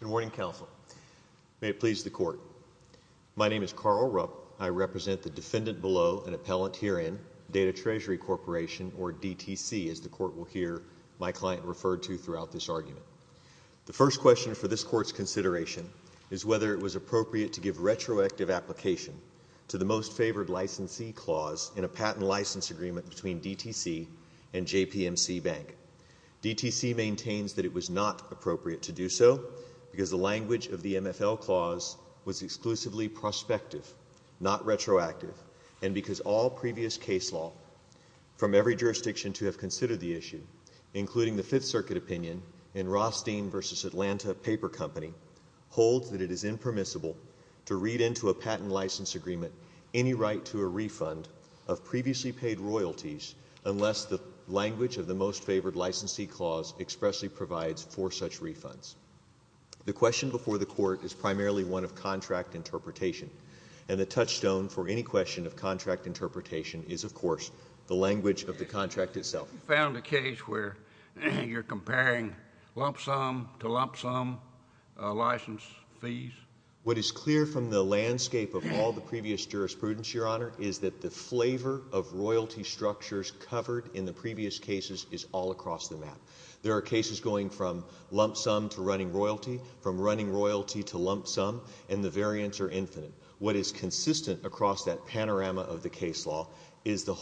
Good morning, Counsel. May it please the Court. My name is Carl Rupp. I represent the defendant below, an appellant herein, Datatreasury Corporation, or DTC, as the Court will hear my client refer to throughout this argument. The first question for this Court's consideration is whether it was appropriate to give retroactive application to the most favored licensee clause in a patent license agreement between DTC and JPMC Bank. DTC maintains that it was not appropriate to do so because the language of the MFL clause was exclusively prospective, not retroactive, and because all previous case law from every jurisdiction to have considered the issue, including the Fifth Circuit opinion in Rothstein v. Atlanta Paper Company, holds that it is impermissible to read into a patent license agreement any right to a refund of previously paid royalties unless the language of the most favored licensee clause expressly provides for such refunds. The question before the Court is primarily one of contract interpretation, and the touchstone for any question of contract interpretation is, of course, the language of the contract itself. You found a case where you're comparing lump sum to lump sum license fees? What is clear from the landscape of all the previous jurisprudence, Your Honor, is that the flavor of royalty structures covered in the previous cases is all across the map. There are cases going from lump sum to running royalty, from running royalty to lump sum, and the variants are infinite. What is consistent across that panorama of the case law is the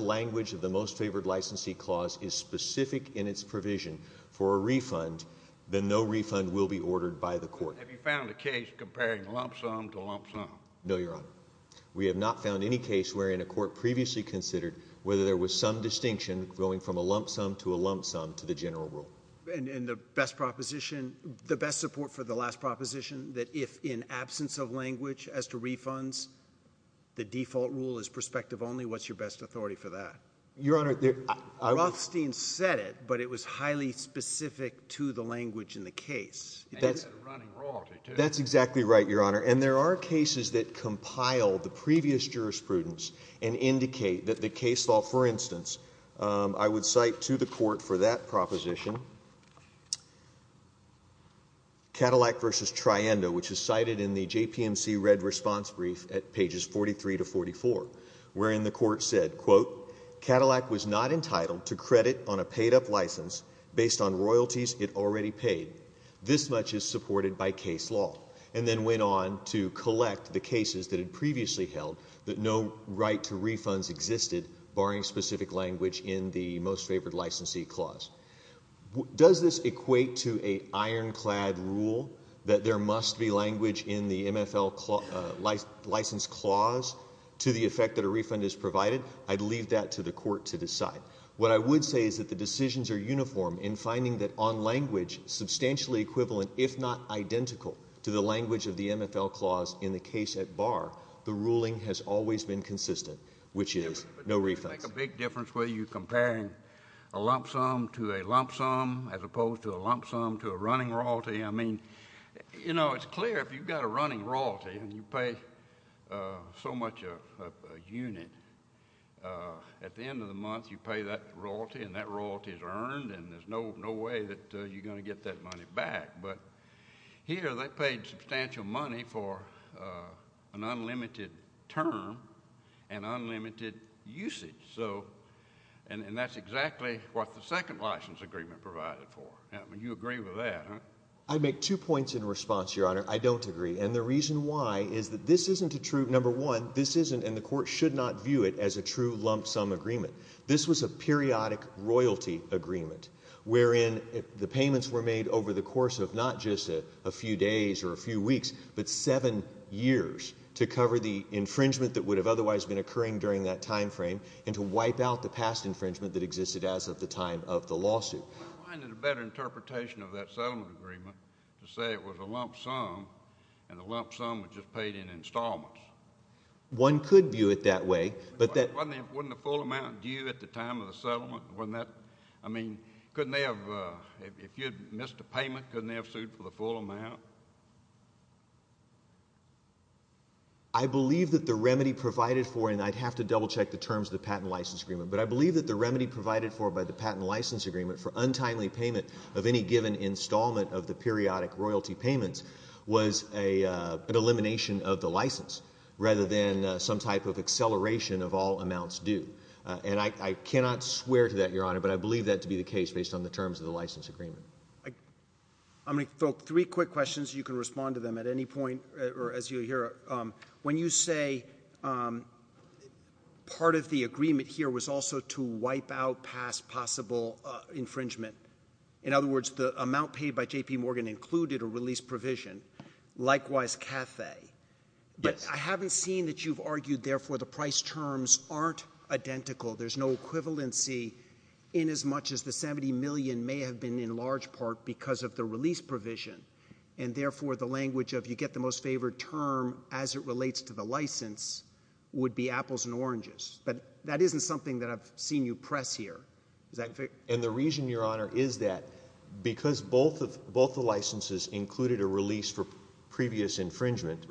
language of the most favored licensee clause is specific in its provision for a refund, then no refund will be ordered by the Court. Have you found a case comparing lump sum to lump sum? No, Your Honor. We have not found any case wherein a Court previously considered whether there was some distinction going from a lump sum to a lump sum to the general rule. And the best proposition, the best support for the last proposition, that if in absence of language as to refunds, the default rule is prospective only, what's your best authority for that? Your Honor, there— Rothstein said it, but it was highly specific to the language in the case. And it had a running royalty, too. That's exactly right, Your Honor. And there are cases that compile the previous jurisprudence and indicate that the case law—for instance, I would cite to the Court for that proposition Cadillac v. Triendo, which is cited in the JPMC red response brief at pages 43 to 44, wherein the Court said, quote, Cadillac was not entitled to credit on a paid-up license based on royalties it already paid. This much is supported by case law, and then went on to collect the cases that it previously held that no right to refunds existed, barring specific language in the most favored licensee clause. Does this equate to an ironclad rule that there must be language in the MFL license clause to the effect that a refund is provided? I'd leave that to the Court to decide. What I would say is that the decisions are uniform in finding that on language substantially equivalent, if not identical, to the language of the MFL clause in the case at bar, the ruling has always been consistent, which is no refunds. But does it make a big difference whether you're comparing a lump sum to a lump sum as opposed to a lump sum to a running royalty? I mean, you know, it's clear if you've got a running royalty and you pay so much a unit, at the end of the month you pay that royalty, and that royalty is earned, and there's no way that you're going to get that money back. But here they paid substantial money for an unlimited term and unlimited usage. And that's exactly what the second license agreement provided for. You agree with that? I'd make two points in response, Your Honor. I don't agree. And the reason why is that this isn't a true, number one, this isn't, and the Court should not view it as a true lump sum agreement. This was a periodic royalty agreement wherein the payments were made over the course of not just a few days or a few weeks, but seven years to cover the infringement that would have otherwise been occurring during that time frame and to wipe out the past infringement that existed as of the time of the lawsuit. Well, I find it a better interpretation of that settlement agreement to say it was a lump sum and the lump sum was just paid in installments. One could view it that way, but that... Wasn't the full amount due at the time of the settlement? Wasn't that, I mean, couldn't they have, if you had missed a payment, couldn't they have sued for the full amount? I believe that the remedy provided for, and I'd have to double check the terms of the patent license agreement, but I believe that the remedy provided for by the patent license agreement for untimely payment of any given installment of the periodic royalty payments was an elimination of the license rather than some type of acceleration of all amounts due. And I cannot swear to that, Your Honor, but I believe that to be the case based on the terms of the license agreement. I'm going to throw three quick questions. You can respond to them at any point or as you hear. When you say part of the agreement here was also to wipe out past possible infringement — in other words, the amount paid by J.P. Morgan included a release provision — likewise CAFE, but I haven't seen that you've argued, therefore, the price terms aren't identical, there's no equivalency in as much as the $70 million may have been in large part because of the release provision, and therefore, the language of, you get the most favored term as it relates to the license, would be apples and oranges. But that isn't something that I've seen you press here. And the reason, Your Honor, is that because both the licenses included a release for previous infringement,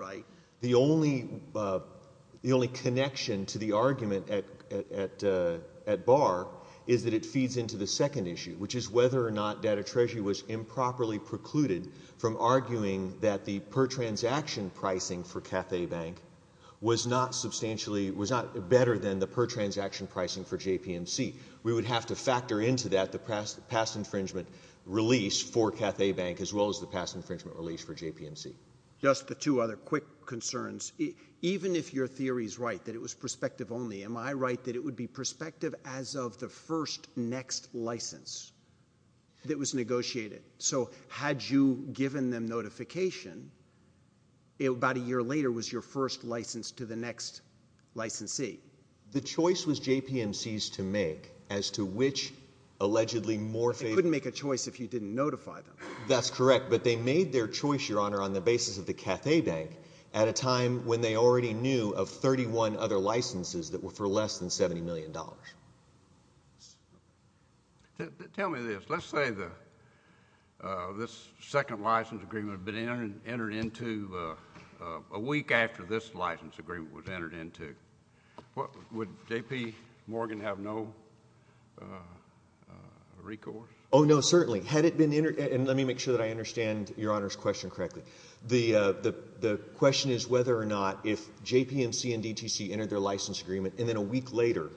the only connection to the argument at bar is that it feeds into the second issue, which is whether or not Data Treasury was improperly precluded from arguing that the per-transaction pricing for CAFE Bank was not better than the per-transaction pricing for JPMC. We would have to factor into that the past infringement release for CAFE Bank as well as the past infringement release for JPMC. Just the two other quick concerns. Even if your theory's right, that it was perspective only, am I right that it would be prospective as of the first next license that was negotiated? So had you given them notification, about a year later was your first license to the next licensee? The choice was JPMC's to make as to which, allegedly, more favorable. They couldn't make a choice if you didn't notify them. That's correct. But they made their choice, Your Honor, on the basis of the CAFE Bank at a time when they already knew of 31 other licenses that were for less than $70 million. Tell me this. Let's say this second license agreement had been entered into a week after this license agreement was entered into. Would J.P. Morgan have no recourse? Oh, no, certainly. Let me make sure that I understand Your Honor's question correctly. The question is whether or not if JPMC and DTC entered their license agreement and then a week later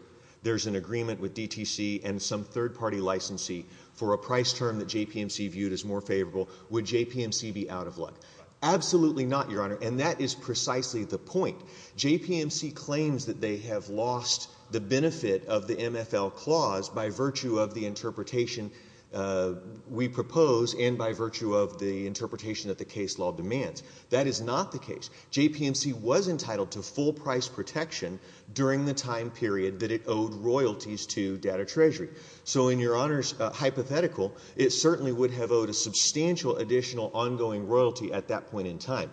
there's an agreement with DTC and some third-party licensee for a price term that JPMC viewed as more favorable, would JPMC be out of luck? Absolutely not, Your Honor, and that is precisely the point. JPMC claims that they have lost the benefit of the MFL clause by virtue of the interpretation we propose and by virtue of the interpretation that the case law demands. That is not the case. JPMC was entitled to full price protection during the time period that it owed royalties to Data Treasury. So in Your Honor's hypothetical, it certainly would have owed a substantial additional ongoing royalty at that point in time.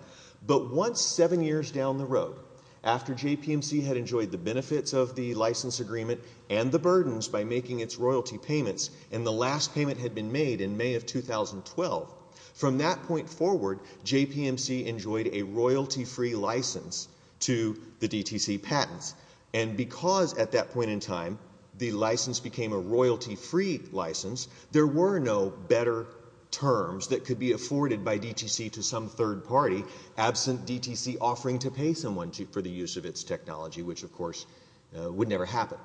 But once seven years down the road, after JPMC had enjoyed the benefits of the license agreement and the burdens by making its royalty payments and the last payment had been made in May of 2012, from that point forward, JPMC enjoyed a royalty-free license to the DTC patents. And because at that point in time the license became a royalty-free license, there were no better terms that could be afforded by DTC to some third party absent DTC offering to pay someone for the use of its technology, which of course would never happen.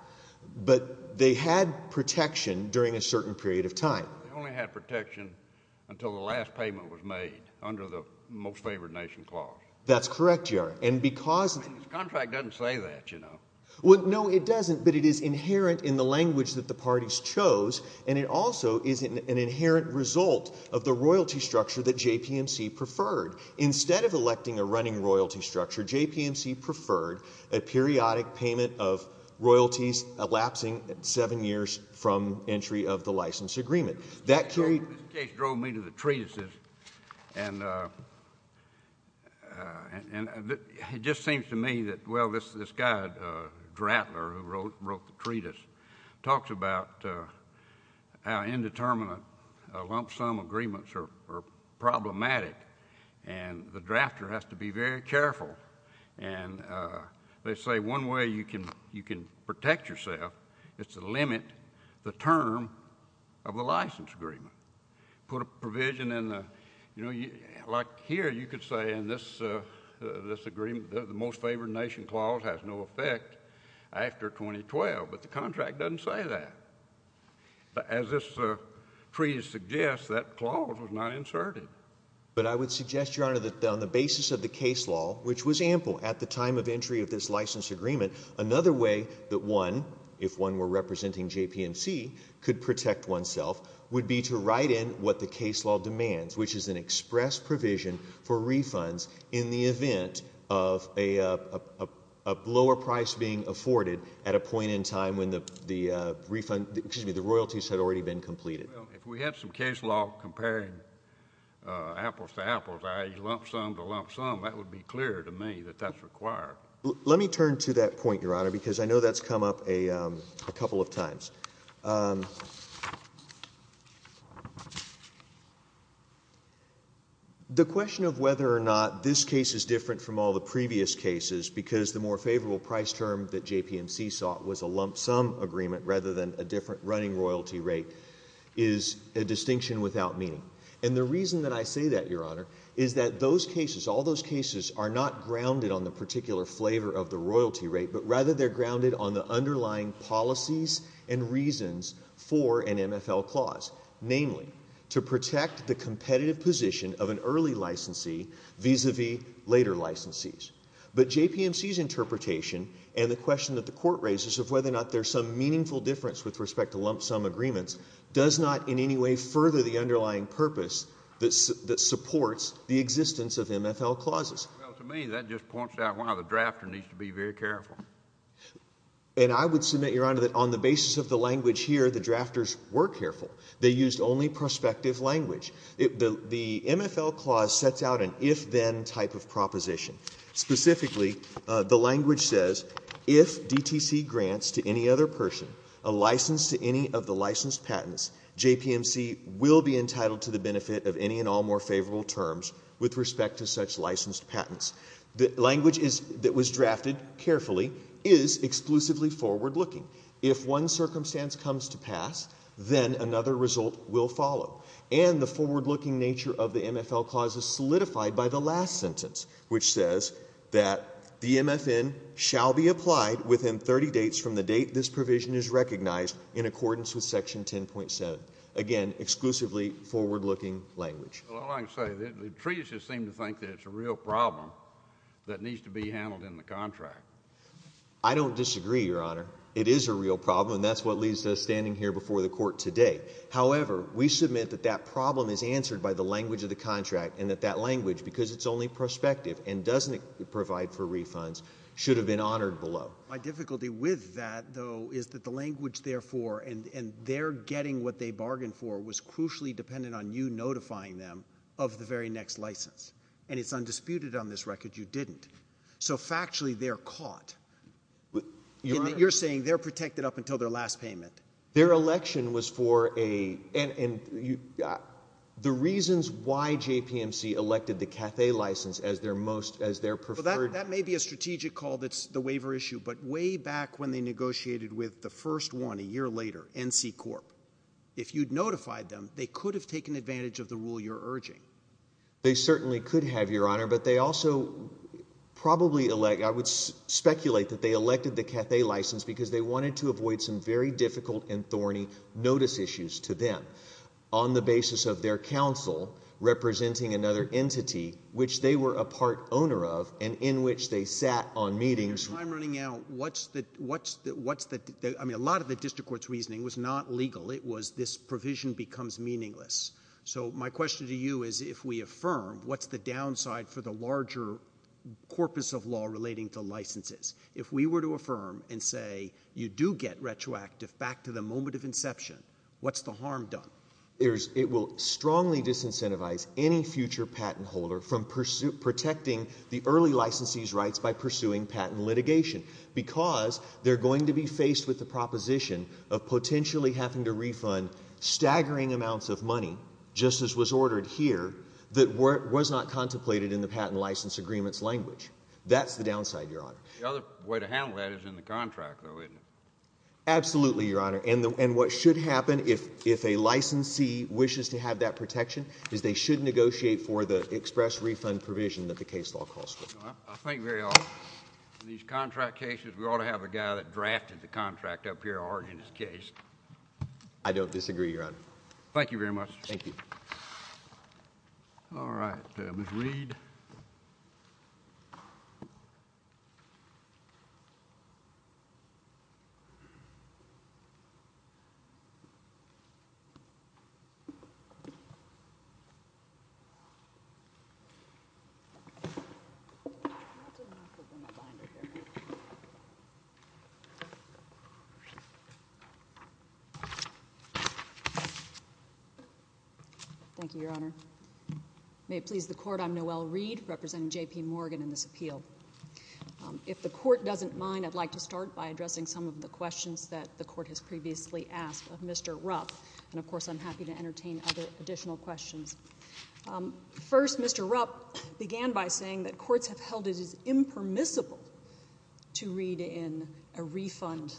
But they had protection during a certain period of time. They only had protection until the last payment was made under the Most Favored Nation Clause. That's correct, Your Honor, and because... The contract doesn't say that, you know. Well, no, it doesn't, but it is inherent in the language that the parties chose, and it also is an inherent result of the royalty structure that JPMC preferred. Instead of electing a running royalty structure, JPMC preferred a periodic payment of royalties elapsing seven years from entry of the license agreement. That carried... This case drove me to the treatises, and it just seems to me that, well, this guy, Drattler, who wrote the treatise, talks about how indeterminate lump-sum agreements are problematic, and the drafter has to be very careful. And they say one way you can protect yourself is to limit the term of the license agreement. Put a provision in the... You know, like here, you could say in this agreement, the Most Favored Nation Clause has no effect after 2012, but the contract doesn't say that. As this treatise suggests, that clause was not inserted. But I would suggest, Your Honor, that on the basis of the case law, which was an example at the time of entry of this license agreement, another way that one, if one were representing JPMC, could protect oneself would be to write in what the case law demands, which is an express provision for refunds in the event of a lower price being afforded at a point in time when the royalties had already been completed. Well, if we had some case law comparing apples to apples, lump-sum to lump-sum, that would be clear to me that that's required. Let me turn to that point, Your Honor, because I know that's come up a couple of times. The question of whether or not this case is different from all the previous cases, because the more favorable price term that JPMC sought was a lump-sum agreement rather than a different running royalty rate, is a distinction without meaning. And the reason that I say that, Your Honor, is that these cases are not grounded on the particular flavor of the royalty rate, but rather they're grounded on the underlying policies and reasons for an MFL clause, namely, to protect the competitive position of an early licensee vis-a-vis later licensees. But JPMC's interpretation and the question that the Court raises of whether or not there's some meaningful difference with respect to lump-sum agreements does not in any way further the underlying purpose that supports the existence of MFL clauses. Well, to me, that just points out why the drafter needs to be very careful. And I would submit, Your Honor, that on the basis of the language here, the drafters were careful. They used only prospective language. The MFL clause sets out an if-then type of proposition. Specifically, the language says, if DTC grants to any other person a license, they will be entitled to the benefit of any and all more favorable terms with respect to such licensed patents. The language that was drafted carefully is exclusively forward-looking. If one circumstance comes to pass, then another result will follow. And the forward-looking nature of the MFL clause is solidified by the last sentence, which says that the MFN shall be applied within 30 dates from the date this provision is recognized in accordance with Section 10.7. Again, exclusively forward-looking language. Well, all I can say, the treatises seem to think that it's a real problem that needs to be handled in the contract. I don't disagree, Your Honor. It is a real problem, and that's what leads to us standing here before the Court today. However, we submit that that problem is answered by the language of the contract and that that language, because it's only prospective and doesn't provide for refunds, should have been honored below. My difficulty with that, though, is that the language, therefore, and their getting what they bargained for, was crucially dependent on you notifying them of the very next license. And it's undisputed on this record you didn't. So, factually, they're caught. Your Honor. You're saying they're protected up until their last payment. Their election was for a — and the reasons why JPMC elected the Cathay license as their most — as their preferred — Well, that may be a strategic call that's the waiver issue, but way back when they negotiated with the first one a year later, NC Corp. If you'd notified them, they could have taken advantage of the rule you're urging. They certainly could have, Your Honor, but they also probably elect — I would speculate that they elected the Cathay license because they wanted to avoid some very difficult and thorny notice issues to them on the basis of their counsel representing another entity which they were a part owner of and in which they sat on meetings. In your time running out, what's the — I mean, a lot of the district court's reasoning was not legal. It was this provision becomes meaningless. So my question to you is if we affirm, what's the downside for the larger corpus of law relating to licenses? If we were to affirm and say you do get retroactive back to the moment of inception, what's the harm done? It will strongly disincentivize any future patent holder from protecting the early licensee's rights by pursuing patent litigation because they're going to be faced with the proposition of potentially having to refund staggering amounts of money, just as was ordered here, that was not contemplated in the patent license agreement's language. That's the downside, Your Honor. The other way to handle that is in the contract, though, isn't it? Absolutely, Your Honor. And what should happen if a licensee wishes to have that protection is they should negotiate for the express refund provision that the case law calls for. I think very often in these contract cases, we ought to have a guy that drafted the contract up here already in his case. I don't disagree, Your Honor. Thank you very much. All right. Ms. Reed. Ms. Reed. Thank you, Your Honor. May it please the Court, I'm Noelle Reed, representing J.P. Morgan in this appeal. If the Court doesn't mind, I'd like to start by addressing some of the questions that the Court has previously asked of Mr. Rupp. And, of course, I'm happy to entertain other additional questions. First, Mr. Rupp began by saying that courts have held it as impermissible to read in a refund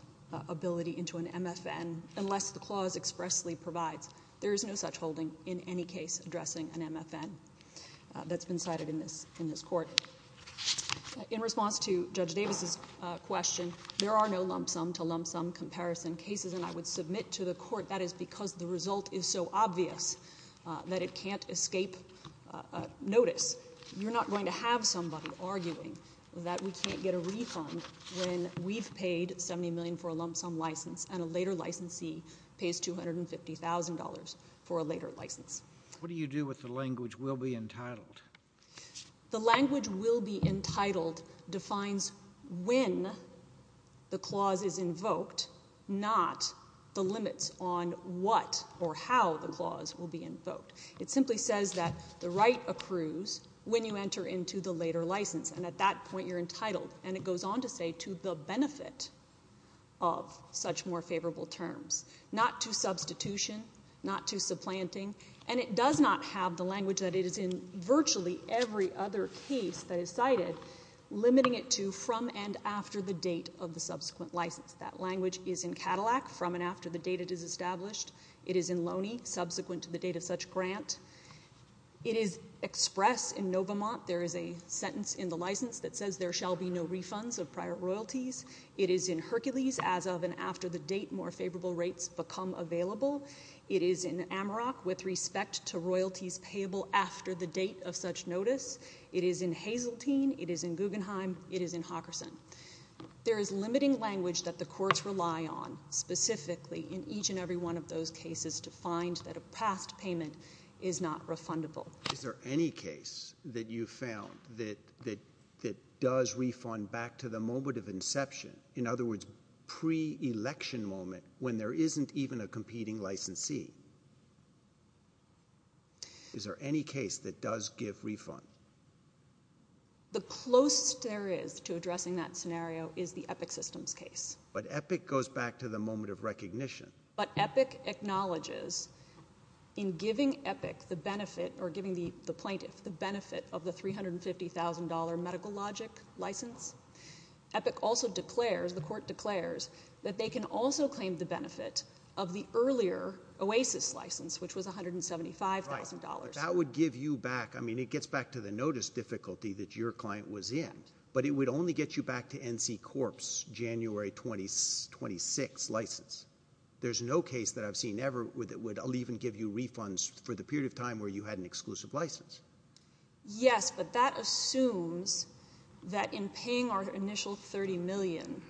ability into an MFN unless the clause expressly provides. There is no such holding in any case addressing an MFN that's been cited in this Court. In response to Judge Davis's question, there are no lump sum to lump sum comparison cases, and I would submit to the Court that is because the result is so obvious that it can't escape notice. You're not going to have somebody arguing that we can't get a refund when we've paid $70 million for a lump sum license and a later licensee pays $250,000 for a later license. What do you do with the language will be entitled? The language will be entitled defines when the clause is invoked, not the limits on what or how the clause will be invoked. It simply says that the right accrues when you enter into the later license, and at that point you're entitled. And it goes on to say to the benefit of such more favorable terms, not to substitution, not to supplanting, and it does not have the language that it is in virtually every other case that is cited limiting it to from and after the date of the subsequent license. That language is in Cadillac, from and after the date it is established. It is in Loney, subsequent to the date of such grant. It is expressed in Novamont. There is a sentence in the license that says there shall be no royalties. It is in Hercules, as of and after the date more favorable rates become available. It is in Amarok, with respect to royalties payable after the date of such notice. It is in Hazeltine. It is in Guggenheim. It is in Hawkerson. There is limiting language that the courts rely on, specifically in each and every one of those cases, to find that a past payment is not refundable. Is there any case that you have found that does refund back to the moment of inception, in other words pre-election moment, when there isn't even a competing licensee? Is there any case that does give refund? The closest there is to addressing that scenario is the Epic systems case. But Epic acknowledges, in giving Epic the benefit, or giving the plaintiff the benefit of the $350,000 medical logic license, Epic also declares, the court declares, that they can also claim the benefit of the earlier Oasis license, which was $175,000. That would give you back, I mean it gets back to the notice difficulty that your client was in, but it would only get you back to NC Corp's January 26th license. There's no case that I've seen ever that would even give you refunds for the period of time where you had an exclusive license. Yes, but that assumes that in paying our initial $30 million,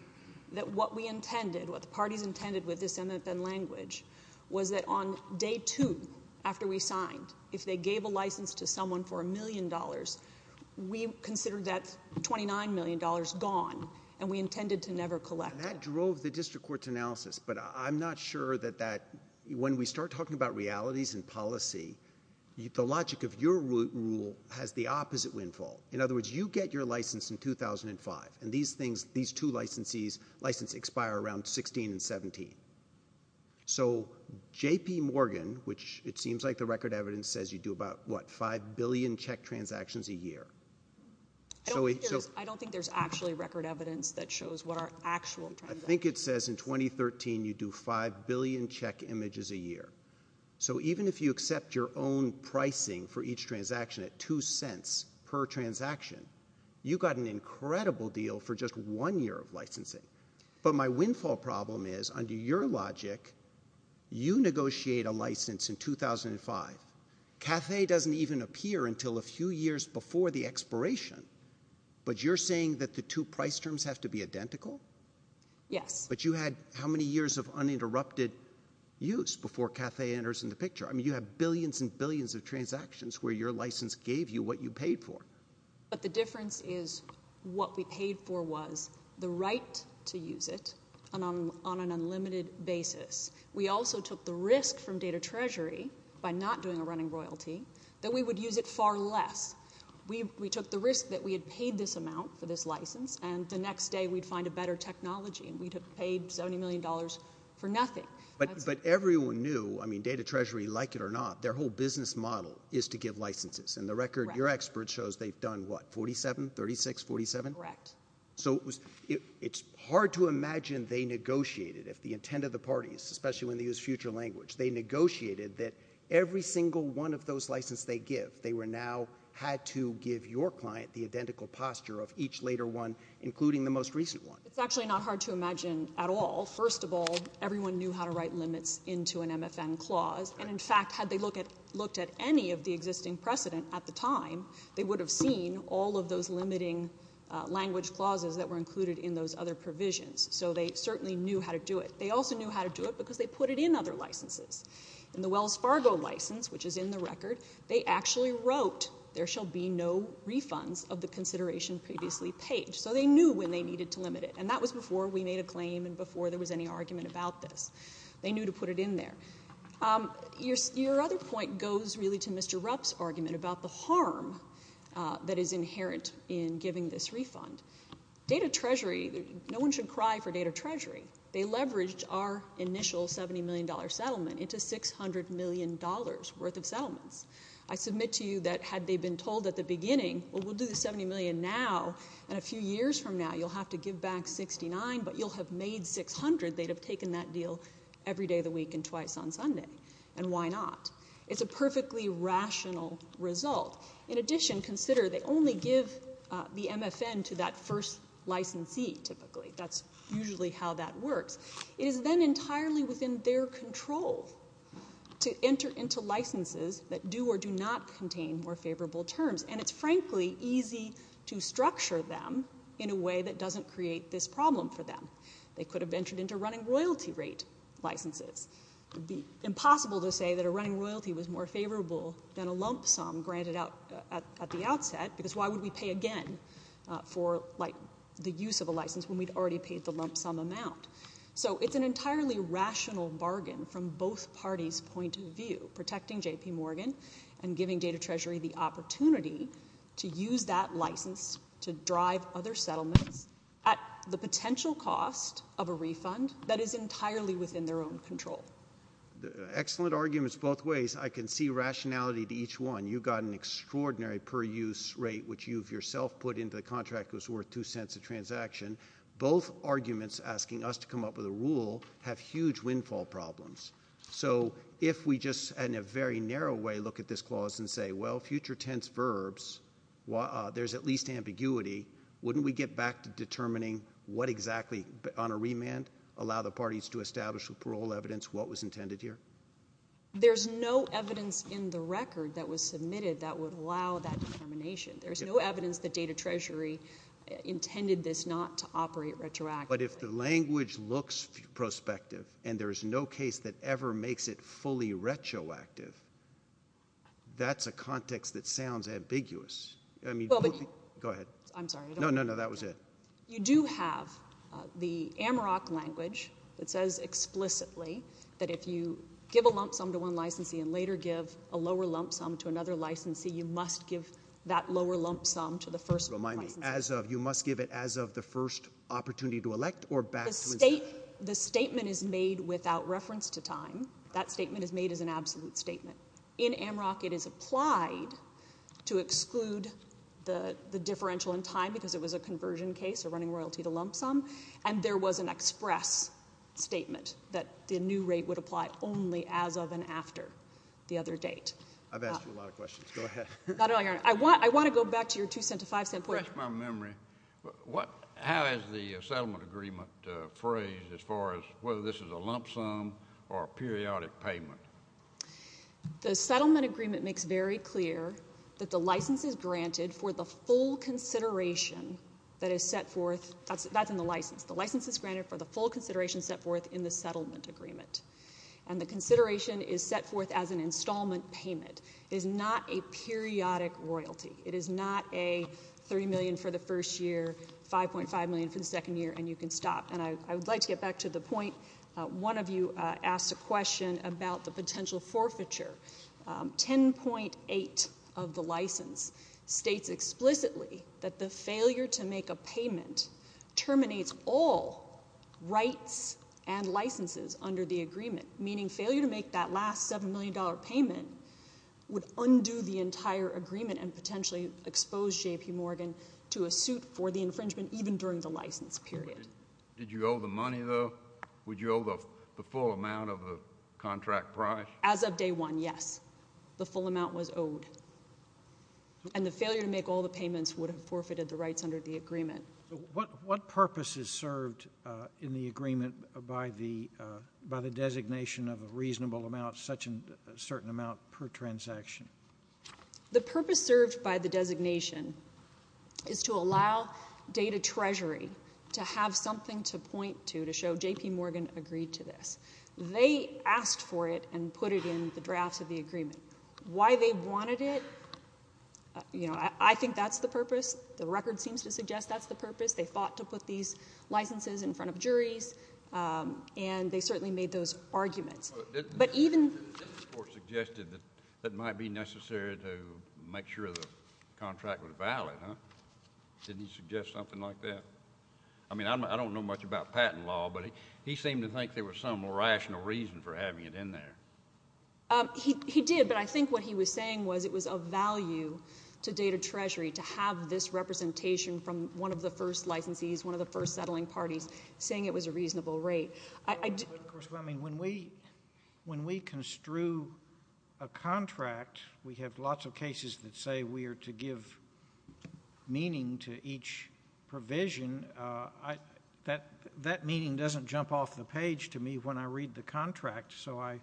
that what we intended, what the parties intended with this MFN language, was that on day two, after we signed, if they get $29 million, gone, and we intended to never collect it. That drove the district court's analysis, but I'm not sure that that, when we start talking about realities and policy, the logic of your rule has the opposite windfall. In other words, you get your license in 2005, and these things, these two licensees, license expire around 16 and 17. So, JP Morgan, which it seems like the record evidence says you do about, what, 5 billion check transactions a year. I don't think there's actually record evidence that shows what our actual transactions are. I think it says in 2013 you do 5 billion check images a year. So, even if you accept your own pricing for each transaction at $0.02 per transaction, you got an incredible deal for just one year of licensing. But my windfall problem is, under your logic, you negotiate a license in 2005. CAFE doesn't even appear until a few years before the expiration, but you're saying that the two price terms have to be identical? Yes. But you had how many years of uninterrupted use before CAFE enters in the picture? I mean, you have billions and billions of transactions where your license gave you what you paid for. But the difference is, what we paid for was the right to use it, and on an unlimited basis. We also took the risk from Data Treasury, by not doing a running royalty, that we would use it far less. We took the risk that we had paid this amount for this license, and the next day we'd find a better technology, and we'd have paid $70 million for nothing. But everyone knew, I mean, Data Treasury, like it or not, their whole business model is to give licenses. And the record, your expert shows they've done, what, 47, 36, 47? Correct. So it's hard to imagine they negotiated, if the intent of the parties, especially when they use future language, they negotiated that every single one of those licenses they give, they now had to give your client the identical posture of each later one, including the most recent one. It's actually not hard to imagine at all. First of all, everyone knew how to write limits into an MFM clause. And in fact, had they looked at any of the existing precedent at the time, they would have seen all of those limiting language clauses that were included in those other provisions. So they certainly knew how to do it. They also knew how to do it because they put it in other licenses. In the Wells Fargo license, which is in the record, they actually wrote, there shall be no refunds of the consideration previously paid. So they knew when they needed to limit it. And that was before we made a claim and before there was any argument about this. They knew to put it in there. Your other point goes really to Mr. Rupp's argument about the harm that is inherent in giving this refund. Data Treasury, no one should cry for Data Treasury. They leveraged our initial $70 million settlement into $600 million worth of settlements. I submit to you that had they been told at the beginning, well, we'll do the $70 million now, and a few years from now, you'll have to give back 69, but you'll have made 600, they'd have taken that deal every day of the week and twice on Sunday. And why not? It's a perfectly rational result. In addition, consider they only give the MFN to that first licensee typically. That's usually how that works. It is then entirely within their control to enter into licenses that do or do not contain more favorable terms. And it's frankly easy to structure them in a way that doesn't create this problem for them. They could have entered into running royalty rate licenses. It would be impossible to say that a running royalty was more favorable than a lump sum granted out at the outset, because why would we pay again for the use of a license when we'd already paid the lump sum amount? So it's an entirely rational bargain from both parties' point of view, protecting JP Morgan and giving Data Treasury the opportunity to use that license to drive other settlements at the potential cost of a refund that is entirely within their own control. Excellent arguments both ways. I can see rationality to each one. You've got an extraordinary per-use rate, which you've yourself put into the contract that was worth two cents a transaction. Both arguments asking us to come up with a rule have huge windfall problems. So if we just in a very narrow way look at this clause and say, well, future tense verbs, there's at ambiguity, wouldn't we get back to determining what exactly on a remand allow the parties to establish with parole evidence what was intended here? There's no evidence in the record that was submitted that would allow that determination. There's no evidence that Data Treasury intended this not to operate retroactively. But if the language looks prospective and there's no case that ever makes it fully retroactive, that's a context that sounds ambiguous. I mean, go ahead. I'm sorry. No, no, no, that was it. You do have the Amarok language that says explicitly that if you give a lump sum to one licensee and later give a lower lump sum to another licensee, you must give that lower lump sum to the first licensee. Remind me, as of, you must give it as of the first opportunity to elect or back to instead? The statement is made without reference to time. That statement is made as an absolute statement. In Amarok, it is applied to exclude the differential in time because it was a conversion case or running royalty to lump sum. And there was an express statement that the new rate would apply only as of and after the other date. I've asked you a lot of questions. Go ahead. Not at all, Your Honor. I want to go back to your $0.02 to $0.05 point. To refresh my memory, how is the settlement agreement phrased as far as whether this is a lump sum or a periodic payment? The settlement agreement makes very clear that the license is granted for the full consideration that is set forth. That's in the license. The license is granted for the full consideration set forth in the settlement agreement. And the consideration is set forth as an installment payment. It is not a periodic royalty. It is not a $3 million for the first year, $5.5 million for the second year, and you can stop. And I would like to get back to the point one of you asked a question about the potential forfeiture. $10.8 of the license states explicitly that the failure to make a payment terminates all rights and licenses under the agreement, meaning failure to make that last $7 million payment would undo the entire agreement and potentially expose J.P. Morgan to a suit for the infringement even during the license period. Did you owe the money, though? Would you owe the full amount of the contract price? As of day one, yes. The full amount was owed. And the failure to make all the payments would have forfeited the rights under the agreement. What purpose is served in the agreement by the designation of a reasonable amount, such as a certain amount per transaction? The purpose served by the designation is to allow Data Treasury to have something to point to to show J.P. Morgan agreed to this. They asked for it and put it in the drafts of the agreement. Why they wanted it, you know, I think that's the purpose. The record seems to suggest that's the purpose. They fought to put these licenses in front of juries, and they certainly made those arguments. But even — Didn't the court suggest that it might be necessary to make sure the contract was valid, huh? Didn't he suggest something like that? I mean, I don't know much about patent law, but he seemed to think there was some rational reason for having it in there. He did. But I think what he was saying was it was of value to Data Treasury to have this representation from one of the first licensees, one of the first settling parties, saying it was a reasonable rate. But, of course, when we construe a contract, we have lots of cases that say we are to give meaning to each provision. That meaning doesn't jump off the page to me when I read the contract. So I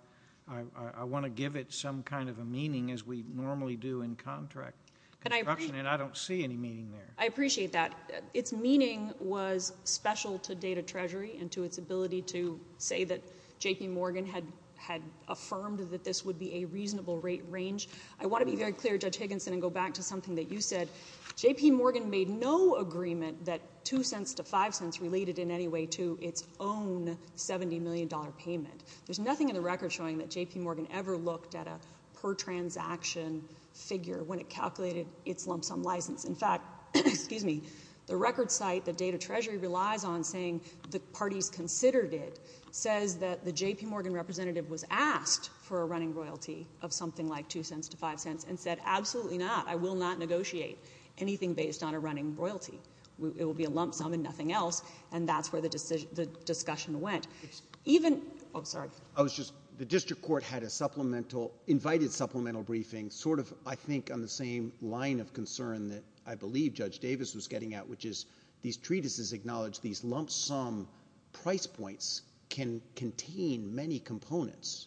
want to give it some kind of a meaning, as we normally do in contract construction, and I don't see any meaning there. I appreciate that. Its meaning was special to Data Treasury and to its ability to say that J.P. Morgan had affirmed that this would be a reasonable rate range. I want to be very clear, Judge Higginson, and go back to something that you said. J.P. Morgan made no agreement that 2 cents to 5 cents related in any way to its own $70 million payment. There's nothing in the record showing that J.P. Morgan ever looked at a per-transaction figure when it calculated its lump sum license. In fact, the record site that Data Treasury relies on saying the parties considered it says that the J.P. Morgan representative was asked for a running royalty of something like 2 cents to 5 cents and said, absolutely not, I will not negotiate anything based on a running royalty. It will be a lump sum and nothing else, and that's where the discussion went. The district court had an invited supplemental briefing, sort of, I think, on the same line of concern that I believe Judge Davis was getting at, which is these treatises acknowledge these lump sum price points can contain many components.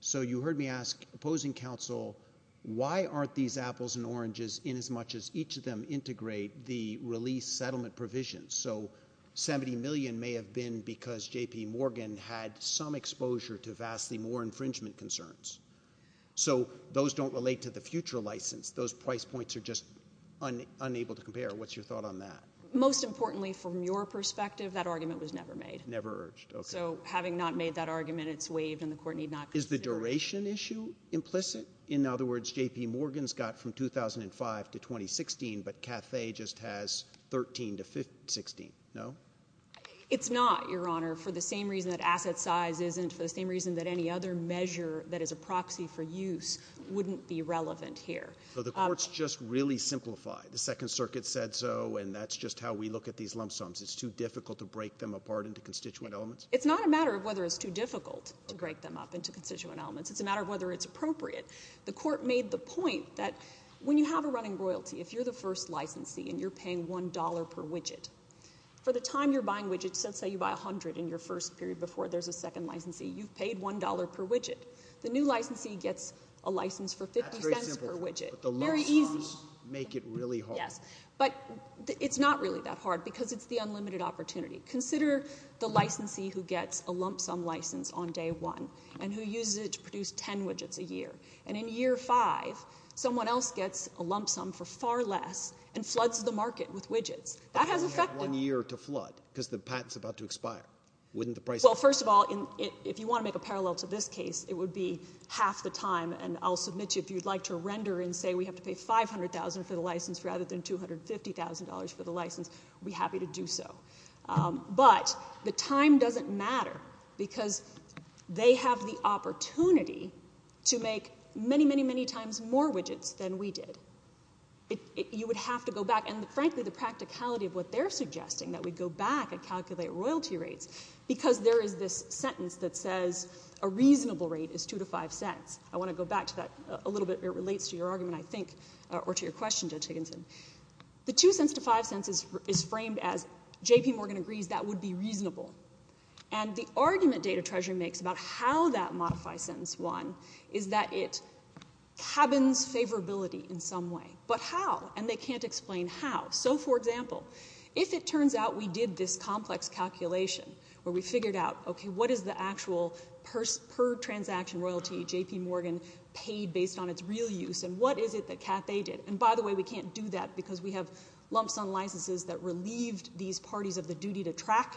So you heard me ask opposing counsel, why aren't these apples and oranges in as much as each of them integrate the release settlement provisions? So $70 million may have been because J.P. Morgan had some exposure to vastly more infringement concerns. So those don't relate to the future license. Those price points are just unable to compare. What's your thought on that? Most importantly, from your perspective, that argument was never made. Never urged. Okay. So having not made that argument, it's waived and the court need not consider it. Is the duration issue implicit? In other words, J.P. Morgan's got from 2005 to 2016, but Cathay just has 13 to 16, no? It's not, Your Honor, for the same reason that asset size isn't, for the same reason that any other measure that is a proxy for use wouldn't be relevant here. So the court's just really simplified. The Second Circuit said so, and that's just how we look at these lump sums. It's too difficult to break them apart into constituent elements? It's not a matter of whether it's too difficult to break them up into constituent elements. It's a matter of whether it's appropriate. The court made the point that when you have a running royalty, if you're the first licensee and you're paying $1 per widget, for the time you're buying widgets, let's say you buy 100 in your first period before there's a second licensee, you've paid $1 per widget. The new licensee gets a license for $0.50 per widget. That's very simple. But the lump sums make it really hard. But it's not really that hard because it's the unlimited opportunity. Consider the licensee who gets a lump sum license on day one, and who uses it to produce 10 widgets a year. And in year five, someone else gets a lump sum for far less and floods the market with widgets. That has effected. One year to flood, because the patent's about to expire. Wouldn't the price go up? Well, first of all, if you want to make a parallel to this case, it would be half the time. And I'll submit to you, if you'd like to render and say we have to pay $500,000 for the license rather than $250,000 for the license, I'd be happy to do so. But the time doesn't matter because they have the opportunity to make many, many, many times more widgets than we did. You would have to go back. And frankly, the practicality of what they're suggesting, that we go back and calculate royalty rates, because there is this sentence that says a reasonable rate is 2 to 5 cents. I want to go back to that a little bit. It relates to your argument, I think, or to your question, Judge Higginson. The 2 cents to 5 cents is framed as J.P. Morgan agrees that would be reasonable. And the argument Data Treasury makes about how that modified sentence won is that it cabins favorability in some way. But how? And they can't explain how. So, for example, if it turns out we did this complex calculation where we figured out, okay, what is the actual per transaction royalty J.P. Morgan paid based on its real use? And what is it that Cathay did? And by the way, we can't do that because we have lumps on licenses that relieved these parties of the duty to track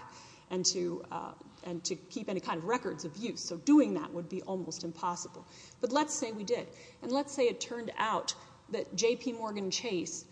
and to keep any kind of records of use. So doing that would be almost impossible. But let's say we did. And let's say it turned out that J.P. Morgan Chase,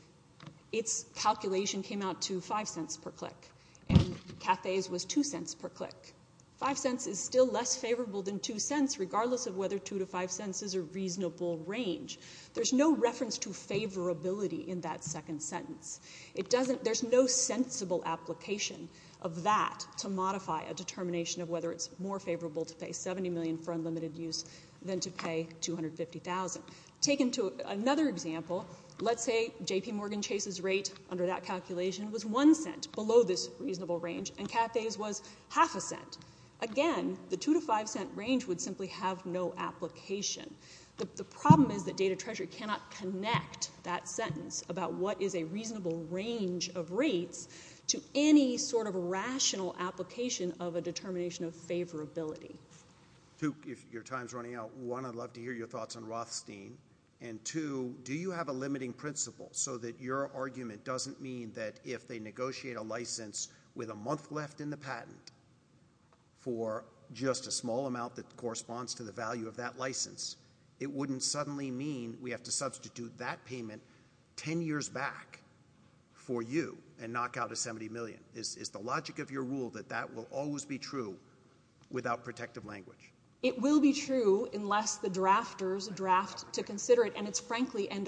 its calculation came out to 5 cents per click. And Cathay's was 2 cents per click. 5 cents is still less favorable than 2 cents regardless of whether 2 to 5 cents is a reasonable range. There's no reference to favorability in that second sentence. It doesn't, there's no sensible application of that to modify a determination of whether it's more favorable to pay 70 million for unlimited use than to pay 250,000. Taken to another example, let's say J.P. Morgan Chase's rate under that calculation was 1 cent below this reasonable range. And Cathay's was half a cent. Again, the 2 to 5 cent range would simply have no application. The problem is that data treasury cannot connect that sentence about what is a reasonable range of rates to any sort of rational application of a determination of favorability. Two, if your time's running out, one, I'd love to hear your thoughts on Rothstein. And two, do you have a limiting principle so that your argument doesn't mean that if they negotiate a license with a month left in the patent for just a small amount that corresponds to the value of that license, it wouldn't suddenly mean we have to substitute that payment 10 years back for you and knock out a 70 million? Is the logic of your rule that that will always be true without protective language? It will be true unless the drafters draft to consider it. And it's frankly an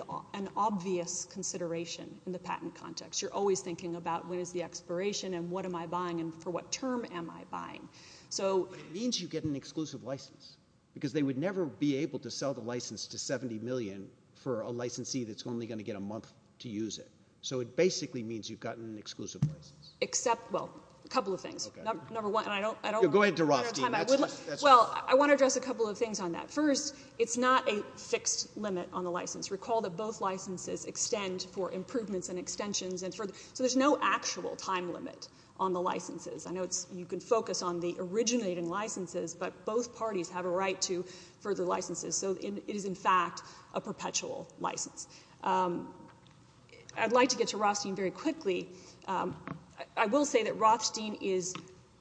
obvious consideration in the patent context. You're always thinking about what is the expiration and what am I buying and for what term am I buying? So. But it means you get an exclusive license because they would never be able to sell the license to 70 million for a licensee that's only going to get a month to use it. So it basically means you've gotten an exclusive license. Except, well, a couple of things. Number one, and I don't want to run out of time. Go ahead to Rothstein. Well, I want to address a couple of things on that. First, it's not a fixed limit on the license. Recall that both licenses extend for improvements and extensions. So there's no actual time limit on the licenses. I know you can focus on the originating licenses, but both parties have a right to further licenses. So it is in fact a perpetual license. I'd like to get to Rothstein very quickly. I will say that Rothstein is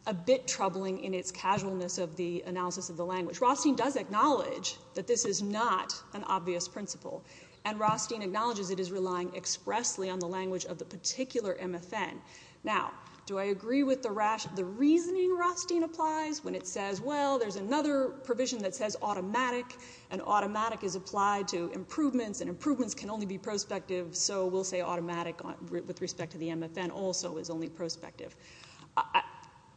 a bit troubling in its casualness of the analysis of the language. Rothstein does acknowledge that this is not an obvious principle. And Rothstein acknowledges it is relying expressly on the language of the particular MFN. Now, do I agree with the reasoning Rothstein applies when it says, well, there's another provision that says automatic. And automatic is applied to improvements. And improvements can only be prospective. So we'll say automatic with respect to the MFN also is only prospective.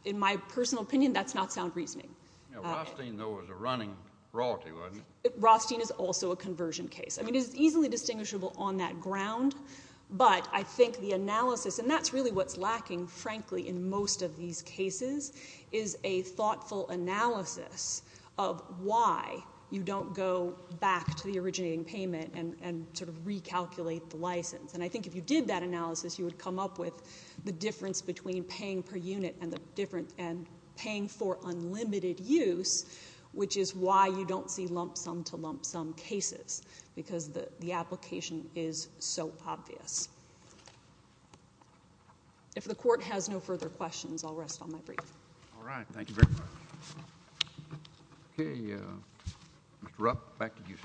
In my personal opinion, that's not sound reasoning. Rothstein, though, is a running royalty, wasn't it? Rothstein is also a conversion case. I mean, it's easily distinguishable on that ground. But I think the analysis, and that's really what's lacking, frankly, in most of these cases, is a thoughtful analysis of why you don't go back to the originating payment and sort of recalculate the license. And I think if you did that analysis, you would come up with the difference between paying per unit and paying for unlimited use, which is why you don't see lump sum to lump sum cases, because the application is so obvious. If the court has no further questions, I'll rest on my brief. All right. Thank you very much. OK. Mr. Rupp, back to you.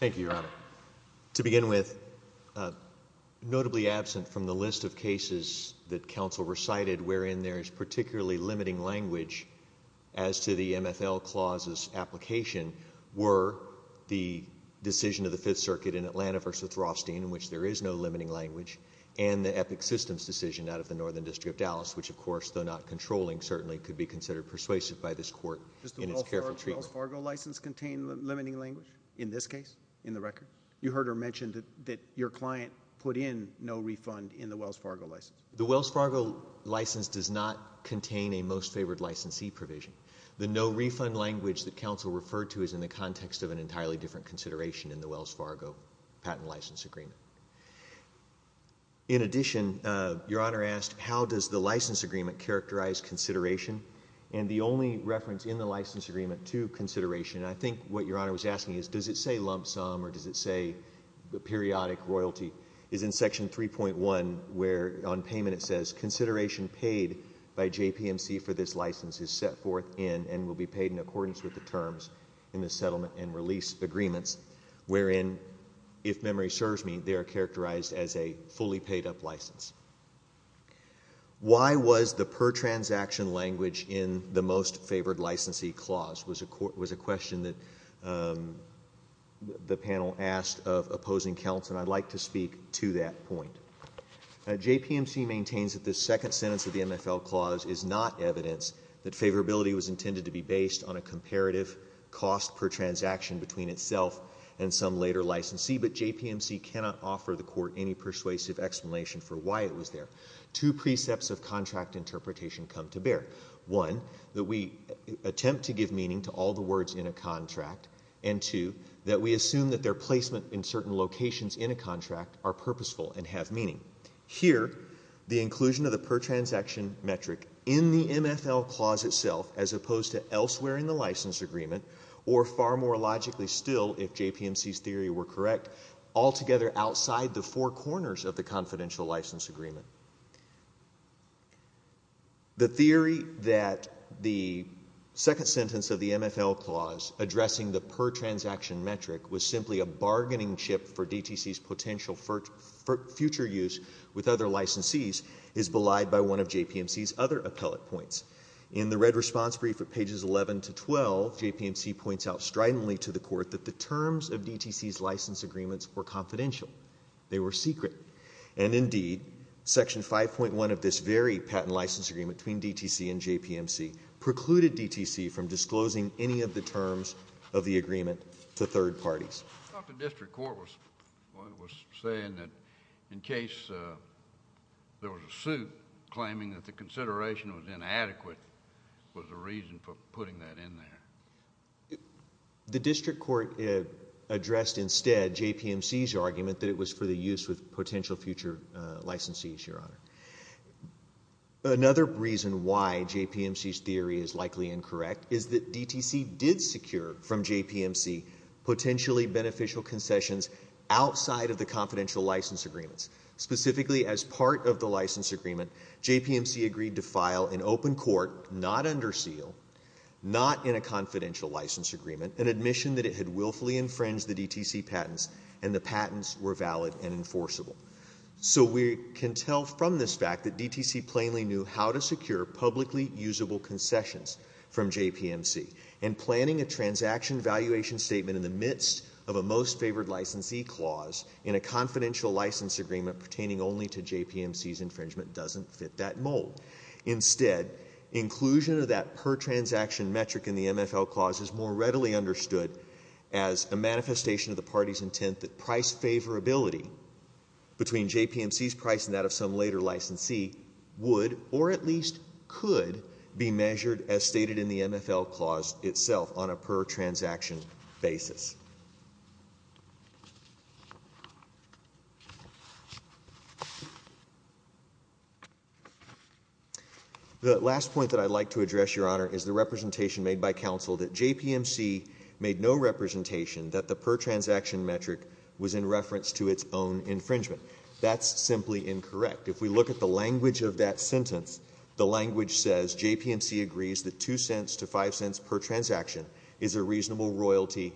Thank you, Your Honor. To begin with, notably absent from the list of cases that counsel recited wherein there is particularly limiting language as to the MFL clause's application were the decision of the Fifth Circuit in Atlanta v. Rothstein, in which there is no limiting language, and the Epic Systems decision out of the Northern District of Dallas, which of course, though not controlling, certainly could be considered persuasive by this court in its careful treatment. Does the Wells Fargo license contain limiting language in this case, in the record? You heard her mention that your client put in no refund in the Wells Fargo license. The Wells Fargo license does not contain a most favored licensee provision. The no refund language that counsel referred to is in the context of an entirely different consideration in the Wells Fargo patent license agreement. In addition, Your Honor asked, how does the license agreement characterize consideration? And the only reference in the license agreement to consideration, I think what Your Honor was asking is, does it say lump sum, or does it say periodic royalty, is in section 3.1, where on payment it says, consideration paid by JPMC for this license is set forth in, and will be paid in accordance with the terms in the settlement and release agreements, wherein, if memory serves me, they are characterized as a fully paid up license. Why was the per transaction language in the most favored licensee clause was a question that the panel asked of opposing counsel, and I'd like to speak to that point. JPMC maintains that the second sentence of the MFL clause is not evidence that favorability was intended to be based on a comparative cost per transaction between itself and some later licensee, but JPMC cannot offer the court any persuasive explanation for why it was there. Two precepts of contract interpretation come to bear. One, that we attempt to give meaning to all the words in a contract, and two, that we assume that their placement in certain locations in a contract are purposeful and have meaning. Here, the inclusion of the per transaction metric in the MFL clause itself, as opposed to elsewhere in the license agreement, or far more logically still, if JPMC's theory were correct, altogether outside the four corners of the confidential license agreement. The theory that the second sentence of the MFL clause addressing the per transaction metric was simply a bargaining chip for DTC's potential future use with other licensees is belied by one of JPMC's other appellate points. In the red response brief at pages 11 to 12, JPMC points out stridently to the court that the terms of DTC's license agreements were confidential. They were secret. And indeed, section 5.1 of this very patent license agreement between DTC and JPMC precluded DTC from disclosing any of the terms of the agreement to third parties. I thought the district court was saying that in case there was a suit claiming that the consideration was inadequate was a reason for putting that in there. The district court addressed instead JPMC's argument that it was for the use with potential future licensees, Your Honor. Another reason why JPMC's theory is likely incorrect is that DTC did secure from JPMC potentially beneficial concessions outside of the confidential license agreements. Specifically, as part of the license agreement, JPMC agreed to file an open court not under seal, not in a confidential license agreement, an admission that it had willfully infringed the DTC patents and the patents were valid and enforceable. So we can tell from this fact that DTC plainly knew how to secure publicly usable concessions from JPMC. And planning a transaction valuation statement in the midst of a most favored licensee clause in a confidential license agreement pertaining only to JPMC's infringement doesn't fit that mold. Instead, inclusion of that per transaction metric in the MFL clause is more readily understood as a manifestation of the party's intent that price favorability between JPMC's price and that of some later licensee would or at least could be measured as stated in the MFL clause itself on a per transaction basis. The last point that I'd like to address, Your Honor, is the representation made by counsel that JPMC made no representation that the per transaction metric was in reference to its own infringement. That's simply incorrect. If we look at the language of that sentence, the language says JPMC agrees that 2 cents to 5 cents per transaction is a reasonable royalty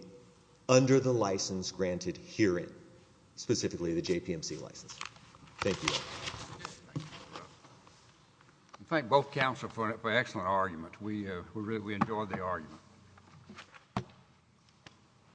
under the license granted herein, specifically the JPMC license. Thank you, Your Honor. I thank both counsel for an excellent argument. We really enjoyed the argument.